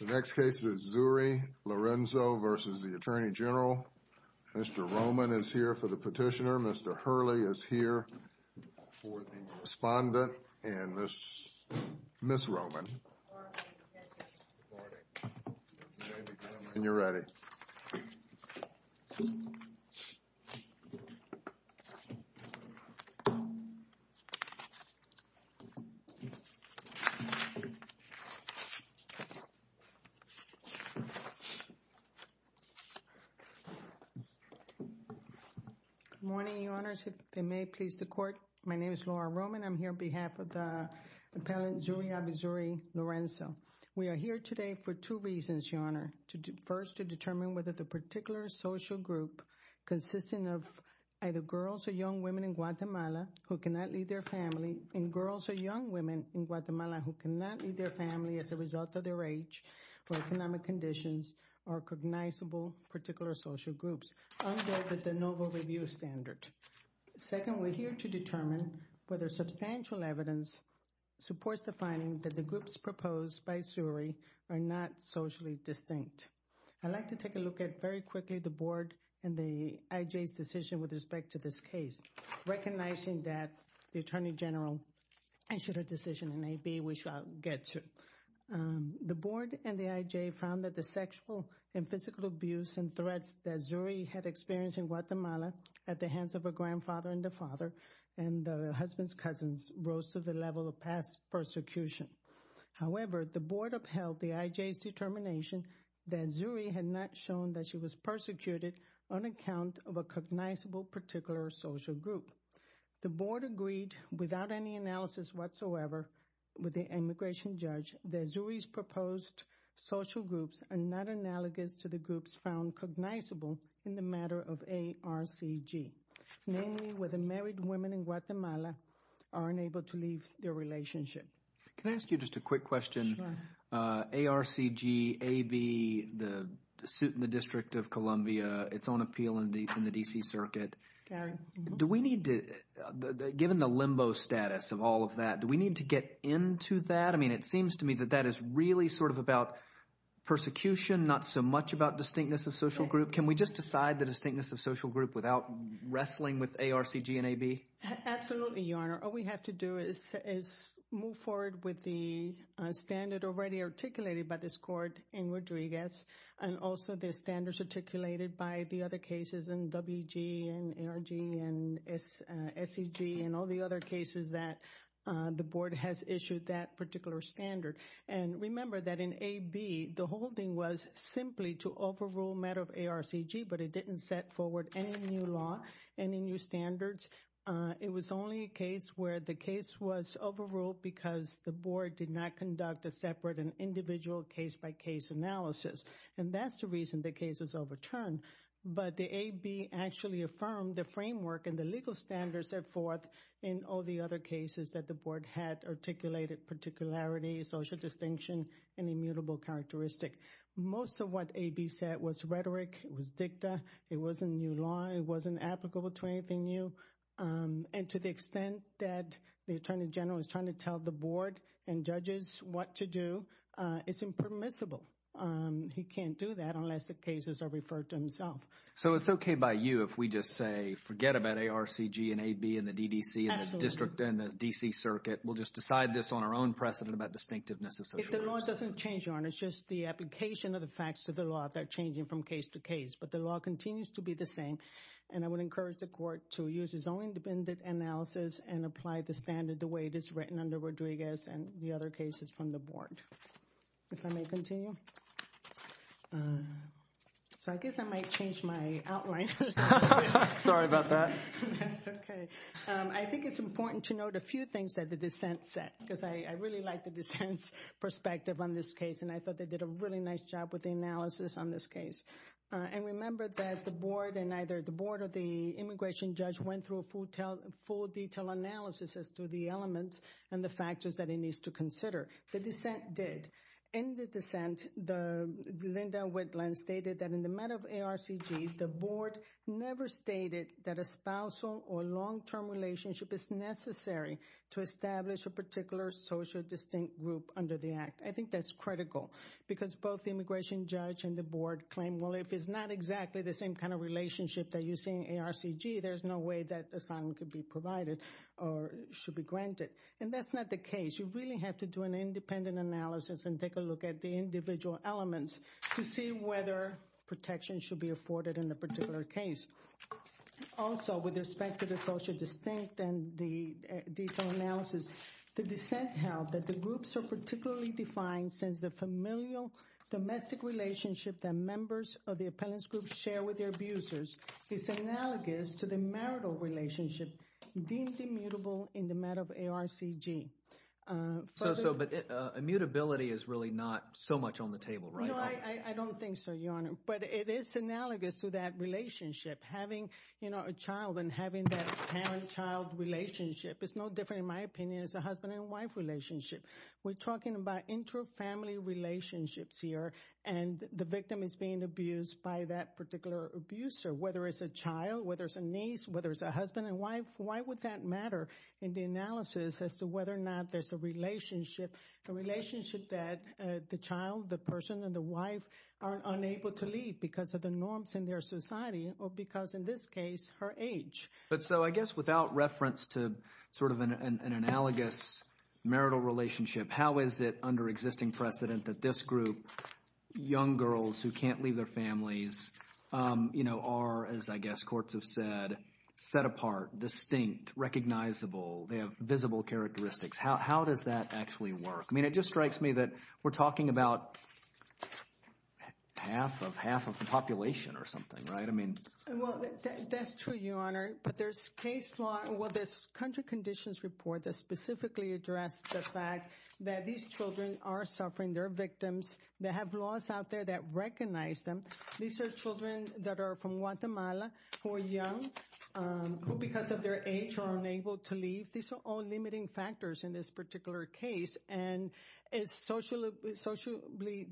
The next case is Zury Lorenzo v. U.S. Attorney General. Mr. Roman is here for the petitioner. Mr. Hurley is here for the respondent. And this is Ms. Roman. And you're ready. Good morning, Your Honors. If it may please the Court, my name is Laura Roman. I'm here on behalf of the appellant Zury Alvizuriz-Lorenzo. We are here today for two reasons, Your Honor. First, to determine whether the particular social group consisting of either girls or young women in Guatemala who cannot leave their family as a result of their age or economic conditions are recognizable particular social groups, under the de novo review standard. Second, we're here to determine whether substantial evidence supports the finding that the groups proposed by Zury are not socially distinct. I'd like to take a look at very quickly the Board and the IJ's decision with respect to this case, recognizing that the Attorney General issued a decision in AB which I'll get to. The Board and the IJ found that the sexual and physical abuse and threats that Zury had experienced in Guatemala at the hands of her grandfather and the father and the husband's cousins rose to the level of past persecution. However, the Board upheld the IJ's determination that Zury had not shown that she was persecuted on account of a cognizable particular social group. The Board agreed without any analysis whatsoever with the immigration judge that Zury's proposed social groups are not analogous to the groups found cognizable in the matter of ARCG, namely whether married women in Guatemala are unable to leave their relationship. Can I ask you just a quick question? Sure. ARCG, AB, the District of Columbia, its own appeal in the D.C. Circuit. Do we need to, given the limbo status of all of that, do we need to get into that? I mean, it seems to me that that is really sort of about persecution, not so much about distinctness of social group. Can we just decide the distinctness of social group without wrestling with ARCG and AB? Absolutely, Your Honor. All we have to do is move forward with the standard already articulated by this Court in Rodriguez and also the standards articulated by the other cases in WG and ARG and SEG and all the other cases that the Board has issued that particular standard. And remember that in AB, the whole thing was simply to overrule matter of ARCG, but it didn't set forward any new law, any new standards. It was only a case where the case was overruled because the Board did not conduct a separate and individual case-by-case analysis, and that's the reason the case was overturned. But the AB actually affirmed the framework and the legal standards set forth in all the other cases that the Board had articulated particularity, social distinction, and immutable characteristic. Most of what AB said was rhetoric. It was dicta. It wasn't new law. It wasn't applicable to anything new. And to the extent that the Attorney General is trying to tell the Board and judges what to do, it's impermissible. He can't do that unless the cases are referred to himself. So it's okay by you if we just say forget about ARCG and AB and the DDC and the district and the D.C. Circuit. We'll just decide this on our own precedent about distinctiveness of social justice. If the law doesn't change, Your Honor, it's just the application of the facts to the law that are changing from case to case. But the law continues to be the same, and I would encourage the Court to use its own independent analysis and apply the standard the way it is written under Rodriguez and the other cases from the Board. If I may continue. So I guess I might change my outline. Sorry about that. That's okay. I think it's important to note a few things that the dissent said because I really like the dissent's perspective on this case, and I thought they did a really nice job with the analysis on this case. And remember that the Board and either the Board or the immigration judge went through a full detail analysis as to the elements and the factors that it needs to consider. The dissent did. In the dissent, Linda Whitland stated that in the matter of ARCG, the Board never stated that a spousal or long-term relationship is necessary to establish a particular social distinct group under the Act. I think that's critical because both the immigration judge and the Board claim, well, if it's not exactly the same kind of relationship that you see in ARCG, there's no way that asylum could be provided or should be granted. And that's not the case. You really have to do an independent analysis and take a look at the individual elements to see whether protection should be afforded in the particular case. Also, with respect to the social distinct and the detailed analysis, the dissent held that the groups are particularly defined since the familial domestic relationship that members of the appellant's group share with their abusers is analogous to the marital relationship deemed immutable in the matter of ARCG. But immutability is really not so much on the table, right? No, I don't think so, Your Honor, but it is analogous to that relationship. Having a child and having that parent-child relationship is no different, in my opinion, as a husband-and-wife relationship. We're talking about inter-family relationships here, and the victim is being abused by that particular abuser, whether it's a child, whether it's a niece, whether it's a husband and wife. Why would that matter in the analysis as to whether or not there's a relationship, a relationship that the child, the person, and the wife are unable to leave because of the norms in their society or because, in this case, her age? But so I guess without reference to sort of an analogous marital relationship, how is it under existing precedent that this group, young girls who can't leave their families, are, as I guess courts have said, set apart, distinct, recognizable? They have visible characteristics. How does that actually work? I mean, it just strikes me that we're talking about half of the population or something, right? I mean— Well, that's true, Your Honor, but there's case law— well, there's country conditions report that specifically addressed the fact that these children are suffering. They're victims. They have laws out there that recognize them. These are children that are from Guatemala who are young, who because of their age are unable to leave. These are all limiting factors in this particular case, and it's socially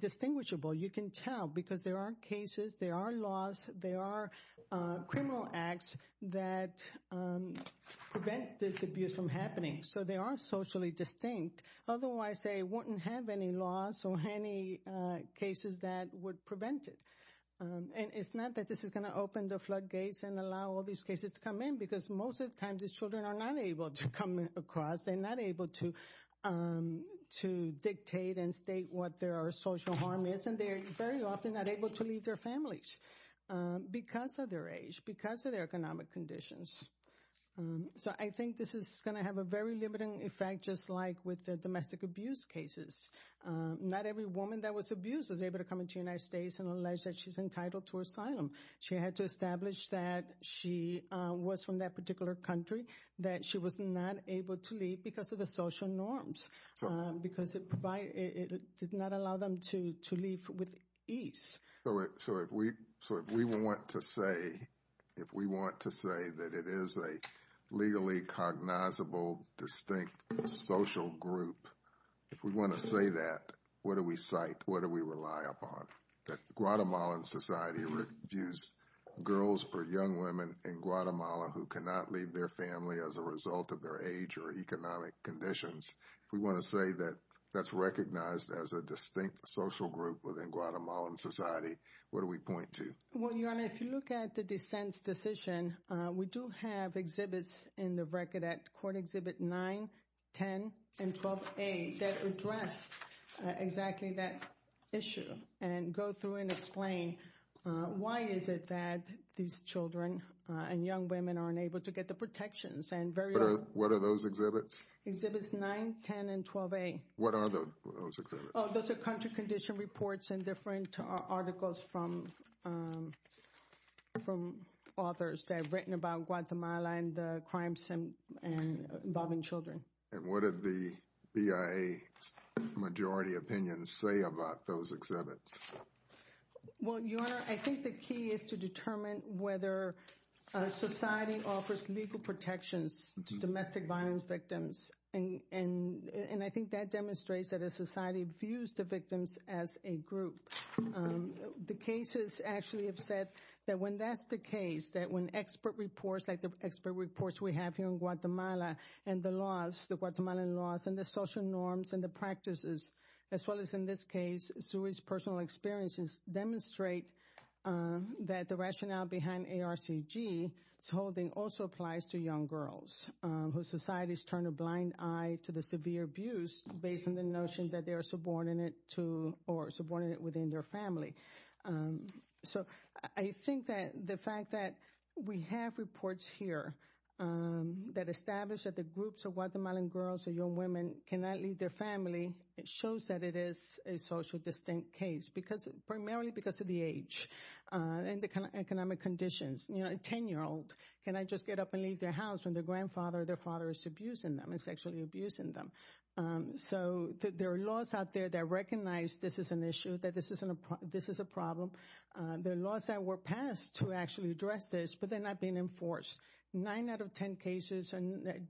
distinguishable. You can tell because there are cases, there are laws, there are criminal acts that prevent this abuse from happening. So they are socially distinct. Otherwise, they wouldn't have any laws or any cases that would prevent it. And it's not that this is going to open the floodgates and allow all these cases to come in because most of the time these children are not able to come across. They're not able to dictate and state what their social harm is, and they're very often not able to leave their families because of their age, because of their economic conditions. So I think this is going to have a very limiting effect just like with the domestic abuse cases. Not every woman that was abused was able to come into the United States and allege that she's entitled to asylum. She had to establish that she was from that particular country, that she was not able to leave because of the social norms, because it did not allow them to leave with ease. So if we want to say that it is a legally cognizable, distinct social group, if we want to say that, what do we cite? What do we rely upon? That the Guatemalan society views girls or young women in Guatemala who cannot leave their family as a result of their age or economic conditions, if we want to say that that's recognized as a distinct social group within Guatemalan society, what do we point to? Well, Your Honor, if you look at the dissent's decision, we do have exhibits in the record at Court Exhibit 9, 10, and 12A that address exactly that issue and go through and explain why is it that these children and young women aren't able to get the protections. What are those exhibits? Exhibits 9, 10, and 12A. What are those exhibits? Those are country condition reports and different articles from authors that have written about Guatemala and the crimes involving children. And what did the BIA majority opinion say about those exhibits? Well, Your Honor, I think the key is to determine whether society offers legal protections to domestic violence victims. And I think that demonstrates that a society views the victims as a group. The cases actually have said that when that's the case, that when expert reports like the expert reports we have here in Guatemala and the laws, the Guatemalan laws and the social norms and the practices, as well as in this case, Sui's personal experiences, demonstrate that the rationale behind ARCG's holding also applies to young girls whose societies turn a blind eye to the severe abuse based on the notion that they are subordinate to or subordinate within their family. So I think that the fact that we have reports here that establish that the groups of Guatemalan girls and also young women cannot leave their family shows that it is a socially distinct case, primarily because of the age and the economic conditions. You know, a 10-year-old, can I just get up and leave their house when their grandfather or their father is abusing them and sexually abusing them? So there are laws out there that recognize this is an issue, that this is a problem. There are laws that were passed to actually address this, but they're not being enforced. Nine out of ten cases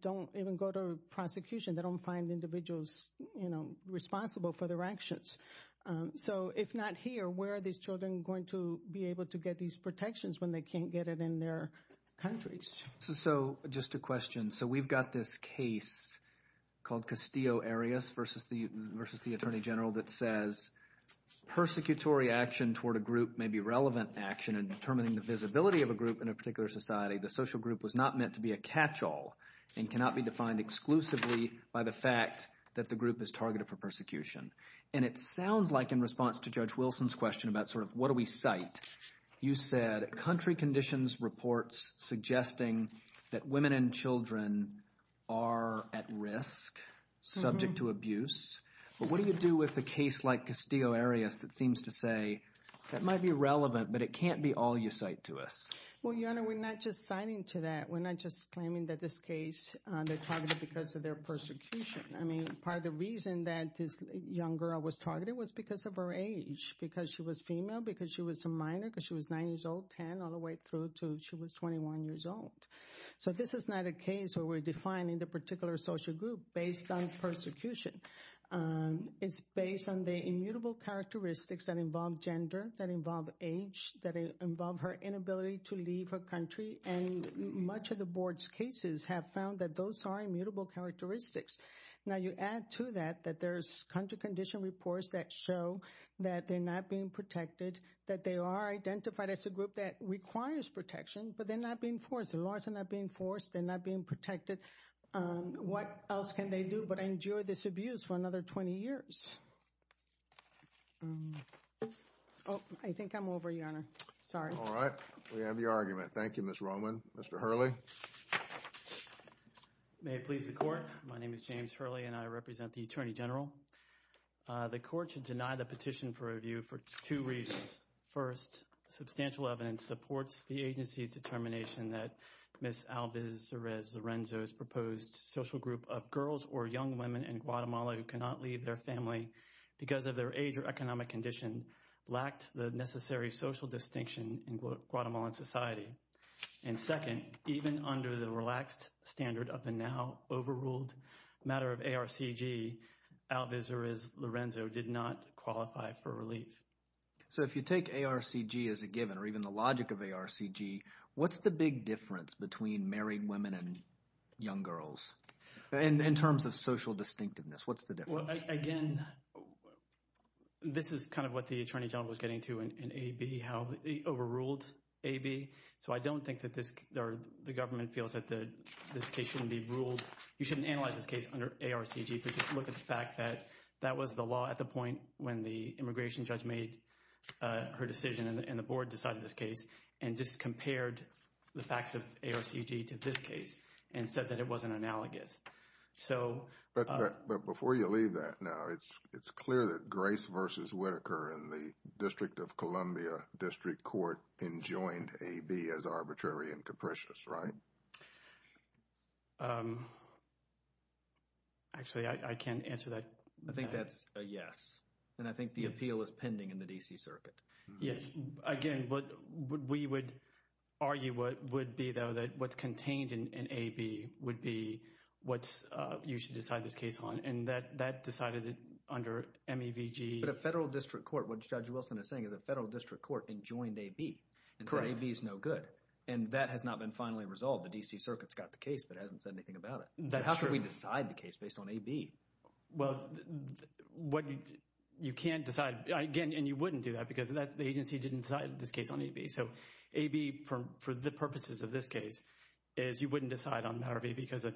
don't even go to prosecution. They don't find individuals responsible for their actions. So if not here, where are these children going to be able to get these protections when they can't get it in their countries? So just a question. So we've got this case called Castillo Arias versus the Attorney General that says, persecutory action toward a group may be relevant action in determining the visibility of a group in a particular society. The social group was not meant to be a catch-all and cannot be defined exclusively by the fact that the group is targeted for persecution. And it sounds like in response to Judge Wilson's question about sort of what do we cite, you said country conditions reports suggesting that women and children are at risk, subject to abuse. But what do you do with a case like Castillo Arias that seems to say that might be relevant, but it can't be all you cite to us? Well, Your Honor, we're not just citing to that. We're not just claiming that this case, they're targeted because of their persecution. I mean, part of the reason that this young girl was targeted was because of her age, because she was female, because she was a minor, because she was 9 years old, 10, all the way through to she was 21 years old. So this is not a case where we're defining the particular social group based on persecution. It's based on the immutable characteristics that involve gender, that involve age, that involve her inability to leave her country, and much of the board's cases have found that those are immutable characteristics. Now you add to that that there's country condition reports that show that they're not being protected, that they are identified as a group that requires protection, but they're not being forced. The laws are not being forced. They're not being protected. What else can they do but endure this abuse for another 20 years? Oh, I think I'm over, Your Honor. Sorry. All right. We have your argument. Thank you, Ms. Roman. Mr. Hurley. May it please the Court. My name is James Hurley, and I represent the Attorney General. The Court should deny the petition for review for two reasons. First, substantial evidence supports the agency's determination that Ms. Alvarez Lorenzo's proposed social group of girls or young women in Guatemala who cannot leave their family because of their age or economic condition lacked the necessary social distinction in Guatemalan society. And second, even under the relaxed standard of the now overruled matter of ARCG, Alvarez Lorenzo did not qualify for relief. So if you take ARCG as a given or even the logic of ARCG, what's the big difference between married women and young girls in terms of social distinctiveness? What's the difference? Well, again, this is kind of what the Attorney General was getting to in AB, how they overruled AB. So I don't think that the government feels that this case shouldn't be ruled. You shouldn't analyze this case under ARCG. But just look at the fact that that was the law at the point when the immigration judge made her decision and the board decided this case and just compared the facts of ARCG to this case and said that it wasn't analogous. But before you leave that now, it's clear that Grace versus Whitaker in the District of Columbia District Court enjoined AB as arbitrary and capricious, right? Actually, I can't answer that. I think that's a yes. And I think the appeal is pending in the D.C. Circuit. Yes. Again, what we would argue would be, though, that what's contained in AB would be what you should decide this case on. And that decided it under MEVG. But a federal district court, what Judge Wilson is saying, is a federal district court enjoined AB. Correct. And so AB is no good. And that has not been finally resolved. The D.C. Circuit's got the case but hasn't said anything about it. That's true. How can we decide the case based on AB? Well, you can't decide. Again, and you wouldn't do that because the agency didn't decide this case on AB. So AB, for the purposes of this case, is you wouldn't decide on the matter of AB because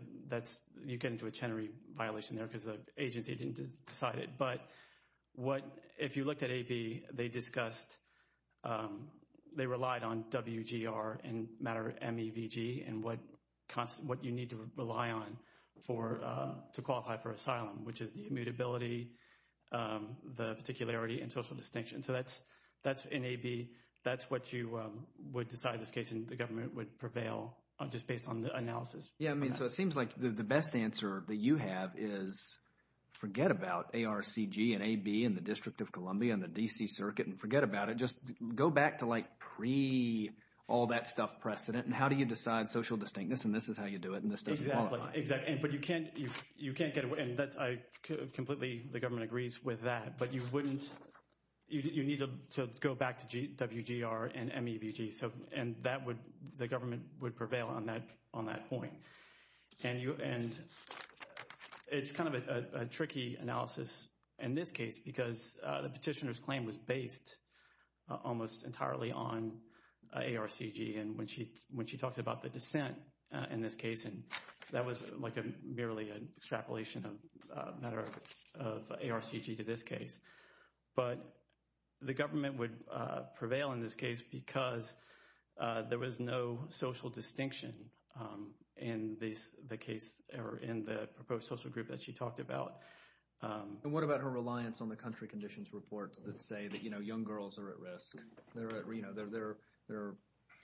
you'd get into a Chenery violation there because the agency didn't decide it. But if you looked at AB, they discussed, they relied on WGR in matter of MEVG and what you need to rely on to qualify for asylum, which is the immutability, the particularity, and social distinction. So that's, in AB, that's what you would decide this case, and the government would prevail just based on the analysis. Yeah, I mean, so it seems like the best answer that you have is forget about ARCG and AB and the District of Columbia and the D.C. Circuit and forget about it. Just go back to like pre-all-that-stuff precedent, and how do you decide social distinctness? And this is how you do it, and this doesn't qualify. Exactly. But you can't get away, and I completely, the government agrees with that, but you wouldn't, you need to go back to WGR and MEVG. And that would, the government would prevail on that point. And it's kind of a tricky analysis in this case because the petitioner's claim was based almost entirely on ARCG. And when she talked about the dissent in this case, that was like merely an extrapolation of matter of ARCG to this case. But the government would prevail in this case because there was no social distinction in the case or in the proposed social group that she talked about. And what about her reliance on the country conditions reports that say that young girls are at risk? There are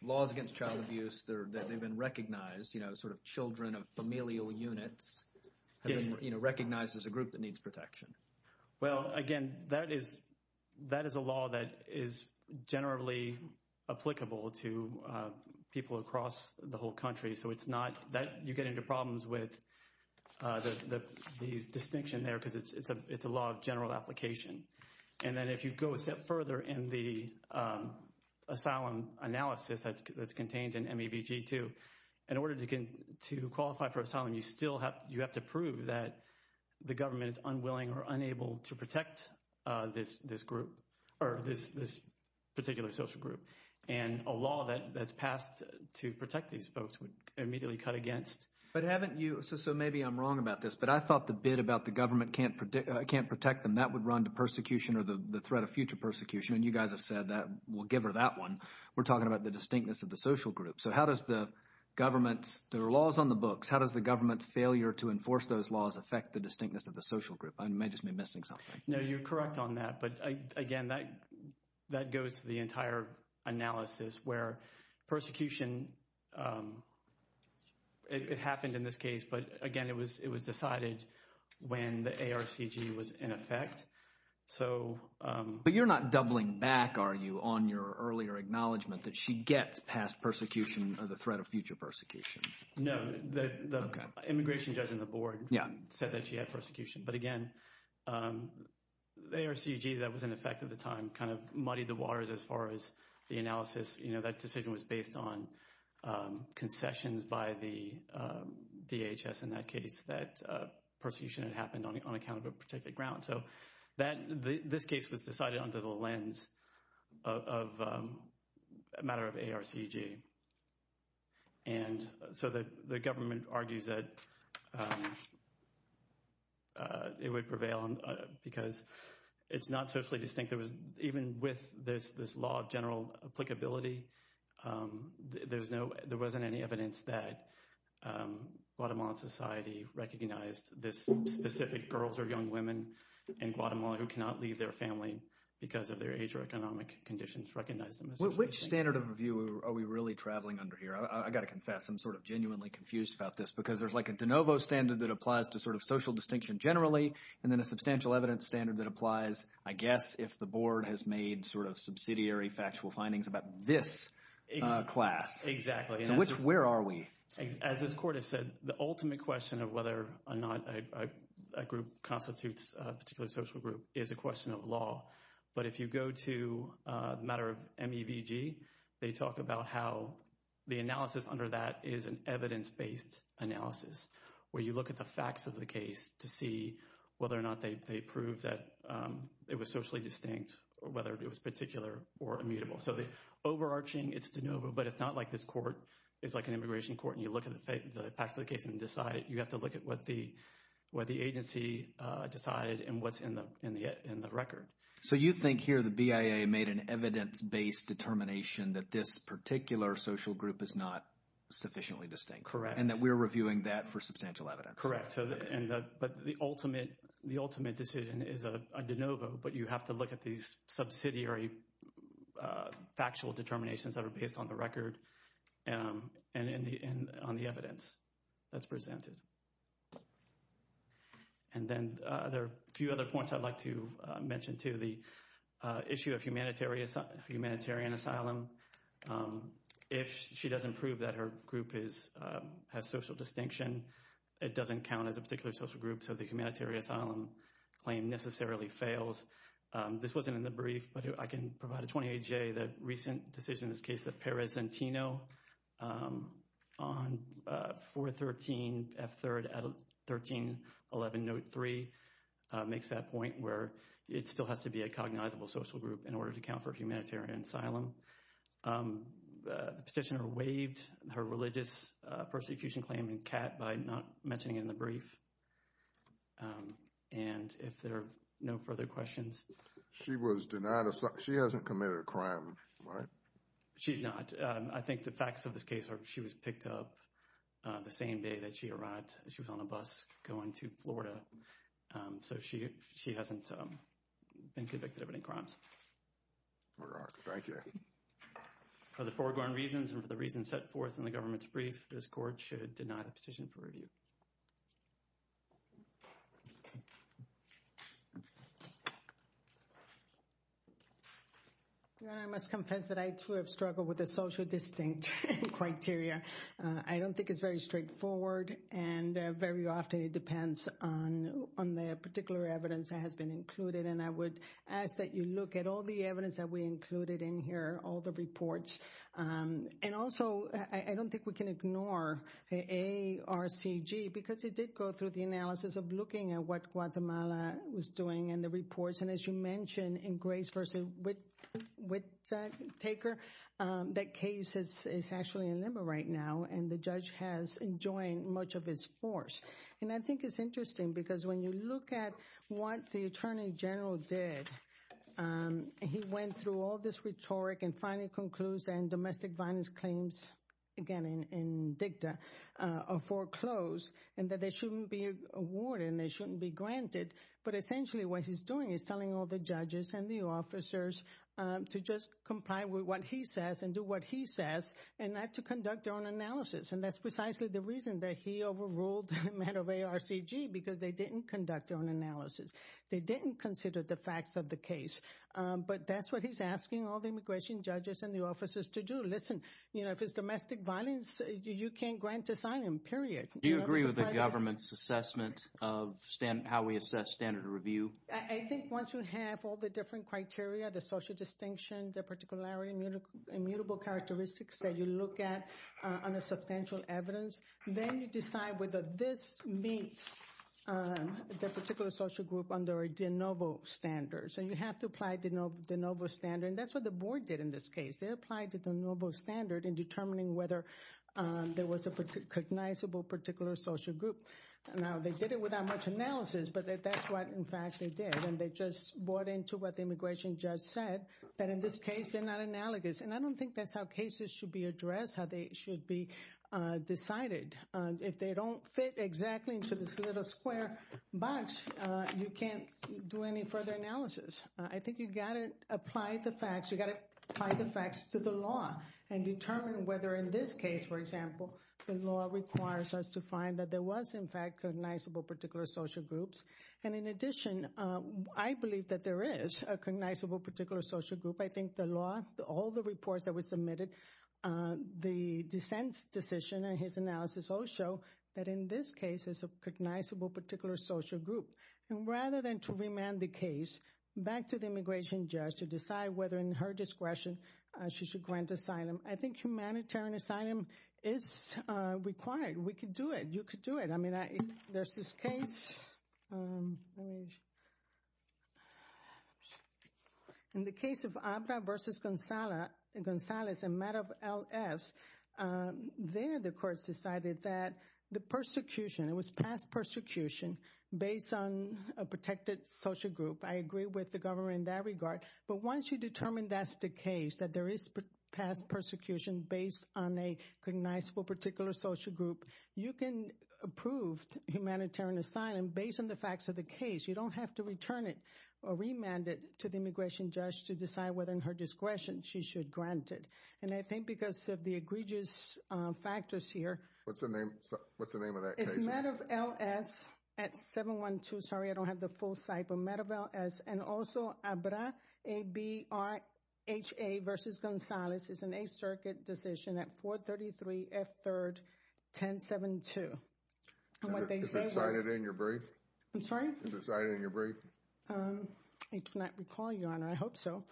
laws against child abuse that have been recognized, sort of children of familial units have been recognized as a group that needs protection. Well, again, that is a law that is generally applicable to people across the whole country. So it's not, you get into problems with the distinction there because it's a law of general application. And then if you go a step further in the asylum analysis that's contained in MEVG too, in order to qualify for asylum, you still have, you have to prove that the government is unwilling or unable to protect this group or this particular social group. And a law that's passed to protect these folks would immediately cut against. But haven't you, so maybe I'm wrong about this, but I thought the bit about the government can't protect them, that would run to persecution or the threat of future persecution. And you guys have said that, well, give her that one. We're talking about the distinctness of the social group. So how does the government's, there are laws on the books, how does the government's failure to enforce those laws affect the distinctness of the social group? I may just be missing something. No, you're correct on that. But again, that goes to the entire analysis where persecution, it happened in this case, but again, it was decided when the ARCG was in effect. But you're not doubling back, are you, on your earlier acknowledgement that she gets past persecution or the threat of future persecution? No, the immigration judge on the board said that she had persecution. But again, the ARCG that was in effect at the time kind of muddied the waters as far as the analysis. That decision was based on concessions by the DHS in that case, that persecution had happened on account of a particular ground. So this case was decided under the lens of a matter of ARCG. And so the government argues that it would prevail because it's not socially distinct. Even with this law of general applicability, there wasn't any evidence that Guatemalan society recognized this specific girls or young women in Guatemala who cannot leave their family because of their age or economic conditions, recognized them as socially distinct. Which standard of review are we really traveling under here? I got to confess, I'm sort of genuinely confused about this because there's like a de novo standard that applies to sort of social distinction generally. And then a substantial evidence standard that applies, I guess, if the board has made sort of subsidiary factual findings about this class. Exactly. So where are we? As this court has said, the ultimate question of whether or not a group constitutes a particular social group is a question of law. But if you go to a matter of MEVG, they talk about how the analysis under that is an evidence-based analysis where you look at the facts of the case to see whether or not they prove that it was socially distinct or whether it was particular or immutable. So the overarching, it's de novo, but it's not like this court is like an immigration court and you look at the facts of the case and decide. You have to look at what the agency decided and what's in the record. So you think here the BIA made an evidence-based determination that this particular social group is not sufficiently distinct. Correct. And that we're reviewing that for substantial evidence. Correct. But the ultimate decision is a de novo, but you have to look at these subsidiary factual determinations that are based on the record and on the evidence that's presented. And then there are a few other points I'd like to mention, too. The issue of humanitarian asylum. If she doesn't prove that her group has social distinction, it doesn't count as a particular social group, so the humanitarian asylum claim necessarily fails. This wasn't in the brief, but I can provide a 28-J. decision in this case that Perez-Zentino on 413F3rd out of 1311 Note 3 makes that point where it still has to be a cognizable social group in order to account for humanitarian asylum. The petitioner waived her religious persecution claim in CAT by not mentioning it in the brief. And if there are no further questions. She was denied asylum. She hasn't committed a crime, right? She's not. I think the facts of this case are she was picked up the same day that she arrived. She was on a bus going to Florida. So she hasn't been convicted of any crimes. All right. Thank you. For the foregone reasons and for the reasons set forth in the government's brief, this court should deny the petition for review. I must confess that I, too, have struggled with the social distinct criteria. I don't think it's very straightforward. And very often it depends on on the particular evidence that has been included. And I would ask that you look at all the evidence that we included in here, all the reports. And also, I don't think we can ignore the ARCG because it did go through the analysis of looking at what Guatemala was doing in the reports. And as you mentioned, in Grace versus Whittaker, that case is actually in limbo right now. And the judge has enjoined much of his force. And I think it's interesting because when you look at what the attorney general did, he went through all this rhetoric and finally concludes. And domestic violence claims, again, in dicta are foreclosed and that they shouldn't be awarded and they shouldn't be granted. But essentially what he's doing is telling all the judges and the officers to just comply with what he says and do what he says and not to conduct their own analysis. And that's precisely the reason that he overruled the man of ARCG because they didn't conduct their own analysis. They didn't consider the facts of the case. But that's what he's asking all the immigration judges and the officers to do. Listen, you know, if it's domestic violence, you can't grant asylum, period. Do you agree with the government's assessment of how we assess standard review? I think once you have all the different criteria, the social distinction, the particular immutable characteristics that you look at on a substantial evidence, then you decide whether this meets the particular social group under a de novo standard. So you have to apply the de novo standard. And that's what the board did in this case. They applied the de novo standard in determining whether there was a recognizable particular social group. Now, they did it without much analysis, but that's what, in fact, they did. And they just bought into what the immigration judge said, that in this case, they're not analogous. And I don't think that's how cases should be addressed, how they should be decided. If they don't fit exactly into this little square box, you can't do any further analysis. I think you've got to apply the facts. And determine whether in this case, for example, the law requires us to find that there was, in fact, recognizable particular social groups. And in addition, I believe that there is a recognizable particular social group. I think the law, all the reports that were submitted, the dissent's decision and his analysis all show that in this case, there's a recognizable particular social group. And rather than to remand the case back to the immigration judge to decide whether, in her discretion, she should grant asylum, I think humanitarian asylum is required. We could do it. You could do it. I mean, there's this case. In the case of Abra versus Gonzales, a matter of LFs, there the court decided that the persecution, it was past persecution based on a protected social group. I agree with the government in that regard. But once you determine that's the case, that there is past persecution based on a recognizable particular social group, you can approve humanitarian asylum based on the facts of the case. You don't have to return it or remand it to the immigration judge to decide whether, in her discretion, she should grant it. And I think because of the egregious factors here. What's the name of that case? It's a matter of LFs at 712. Sorry, I don't have the full site. But a matter of LFs and also Abra, A-B-R-H-A versus Gonzales is an Eighth Circuit decision at 433 F. 3rd, 1072. Is it cited in your brief? I'm sorry? Is it cited in your brief? I do not recall, Your Honor. I hope so.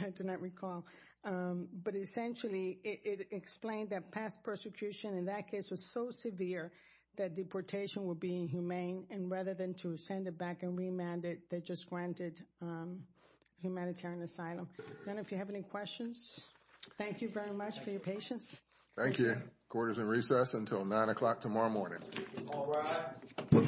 I do not recall. But essentially, it explained that past persecution in that case was so severe that deportation would be inhumane. And rather than to send it back and remand it, they just granted humanitarian asylum. I don't know if you have any questions. Thank you very much for your patience. Thank you. Court is in recess until 9 o'clock tomorrow morning. All rise. Thank you.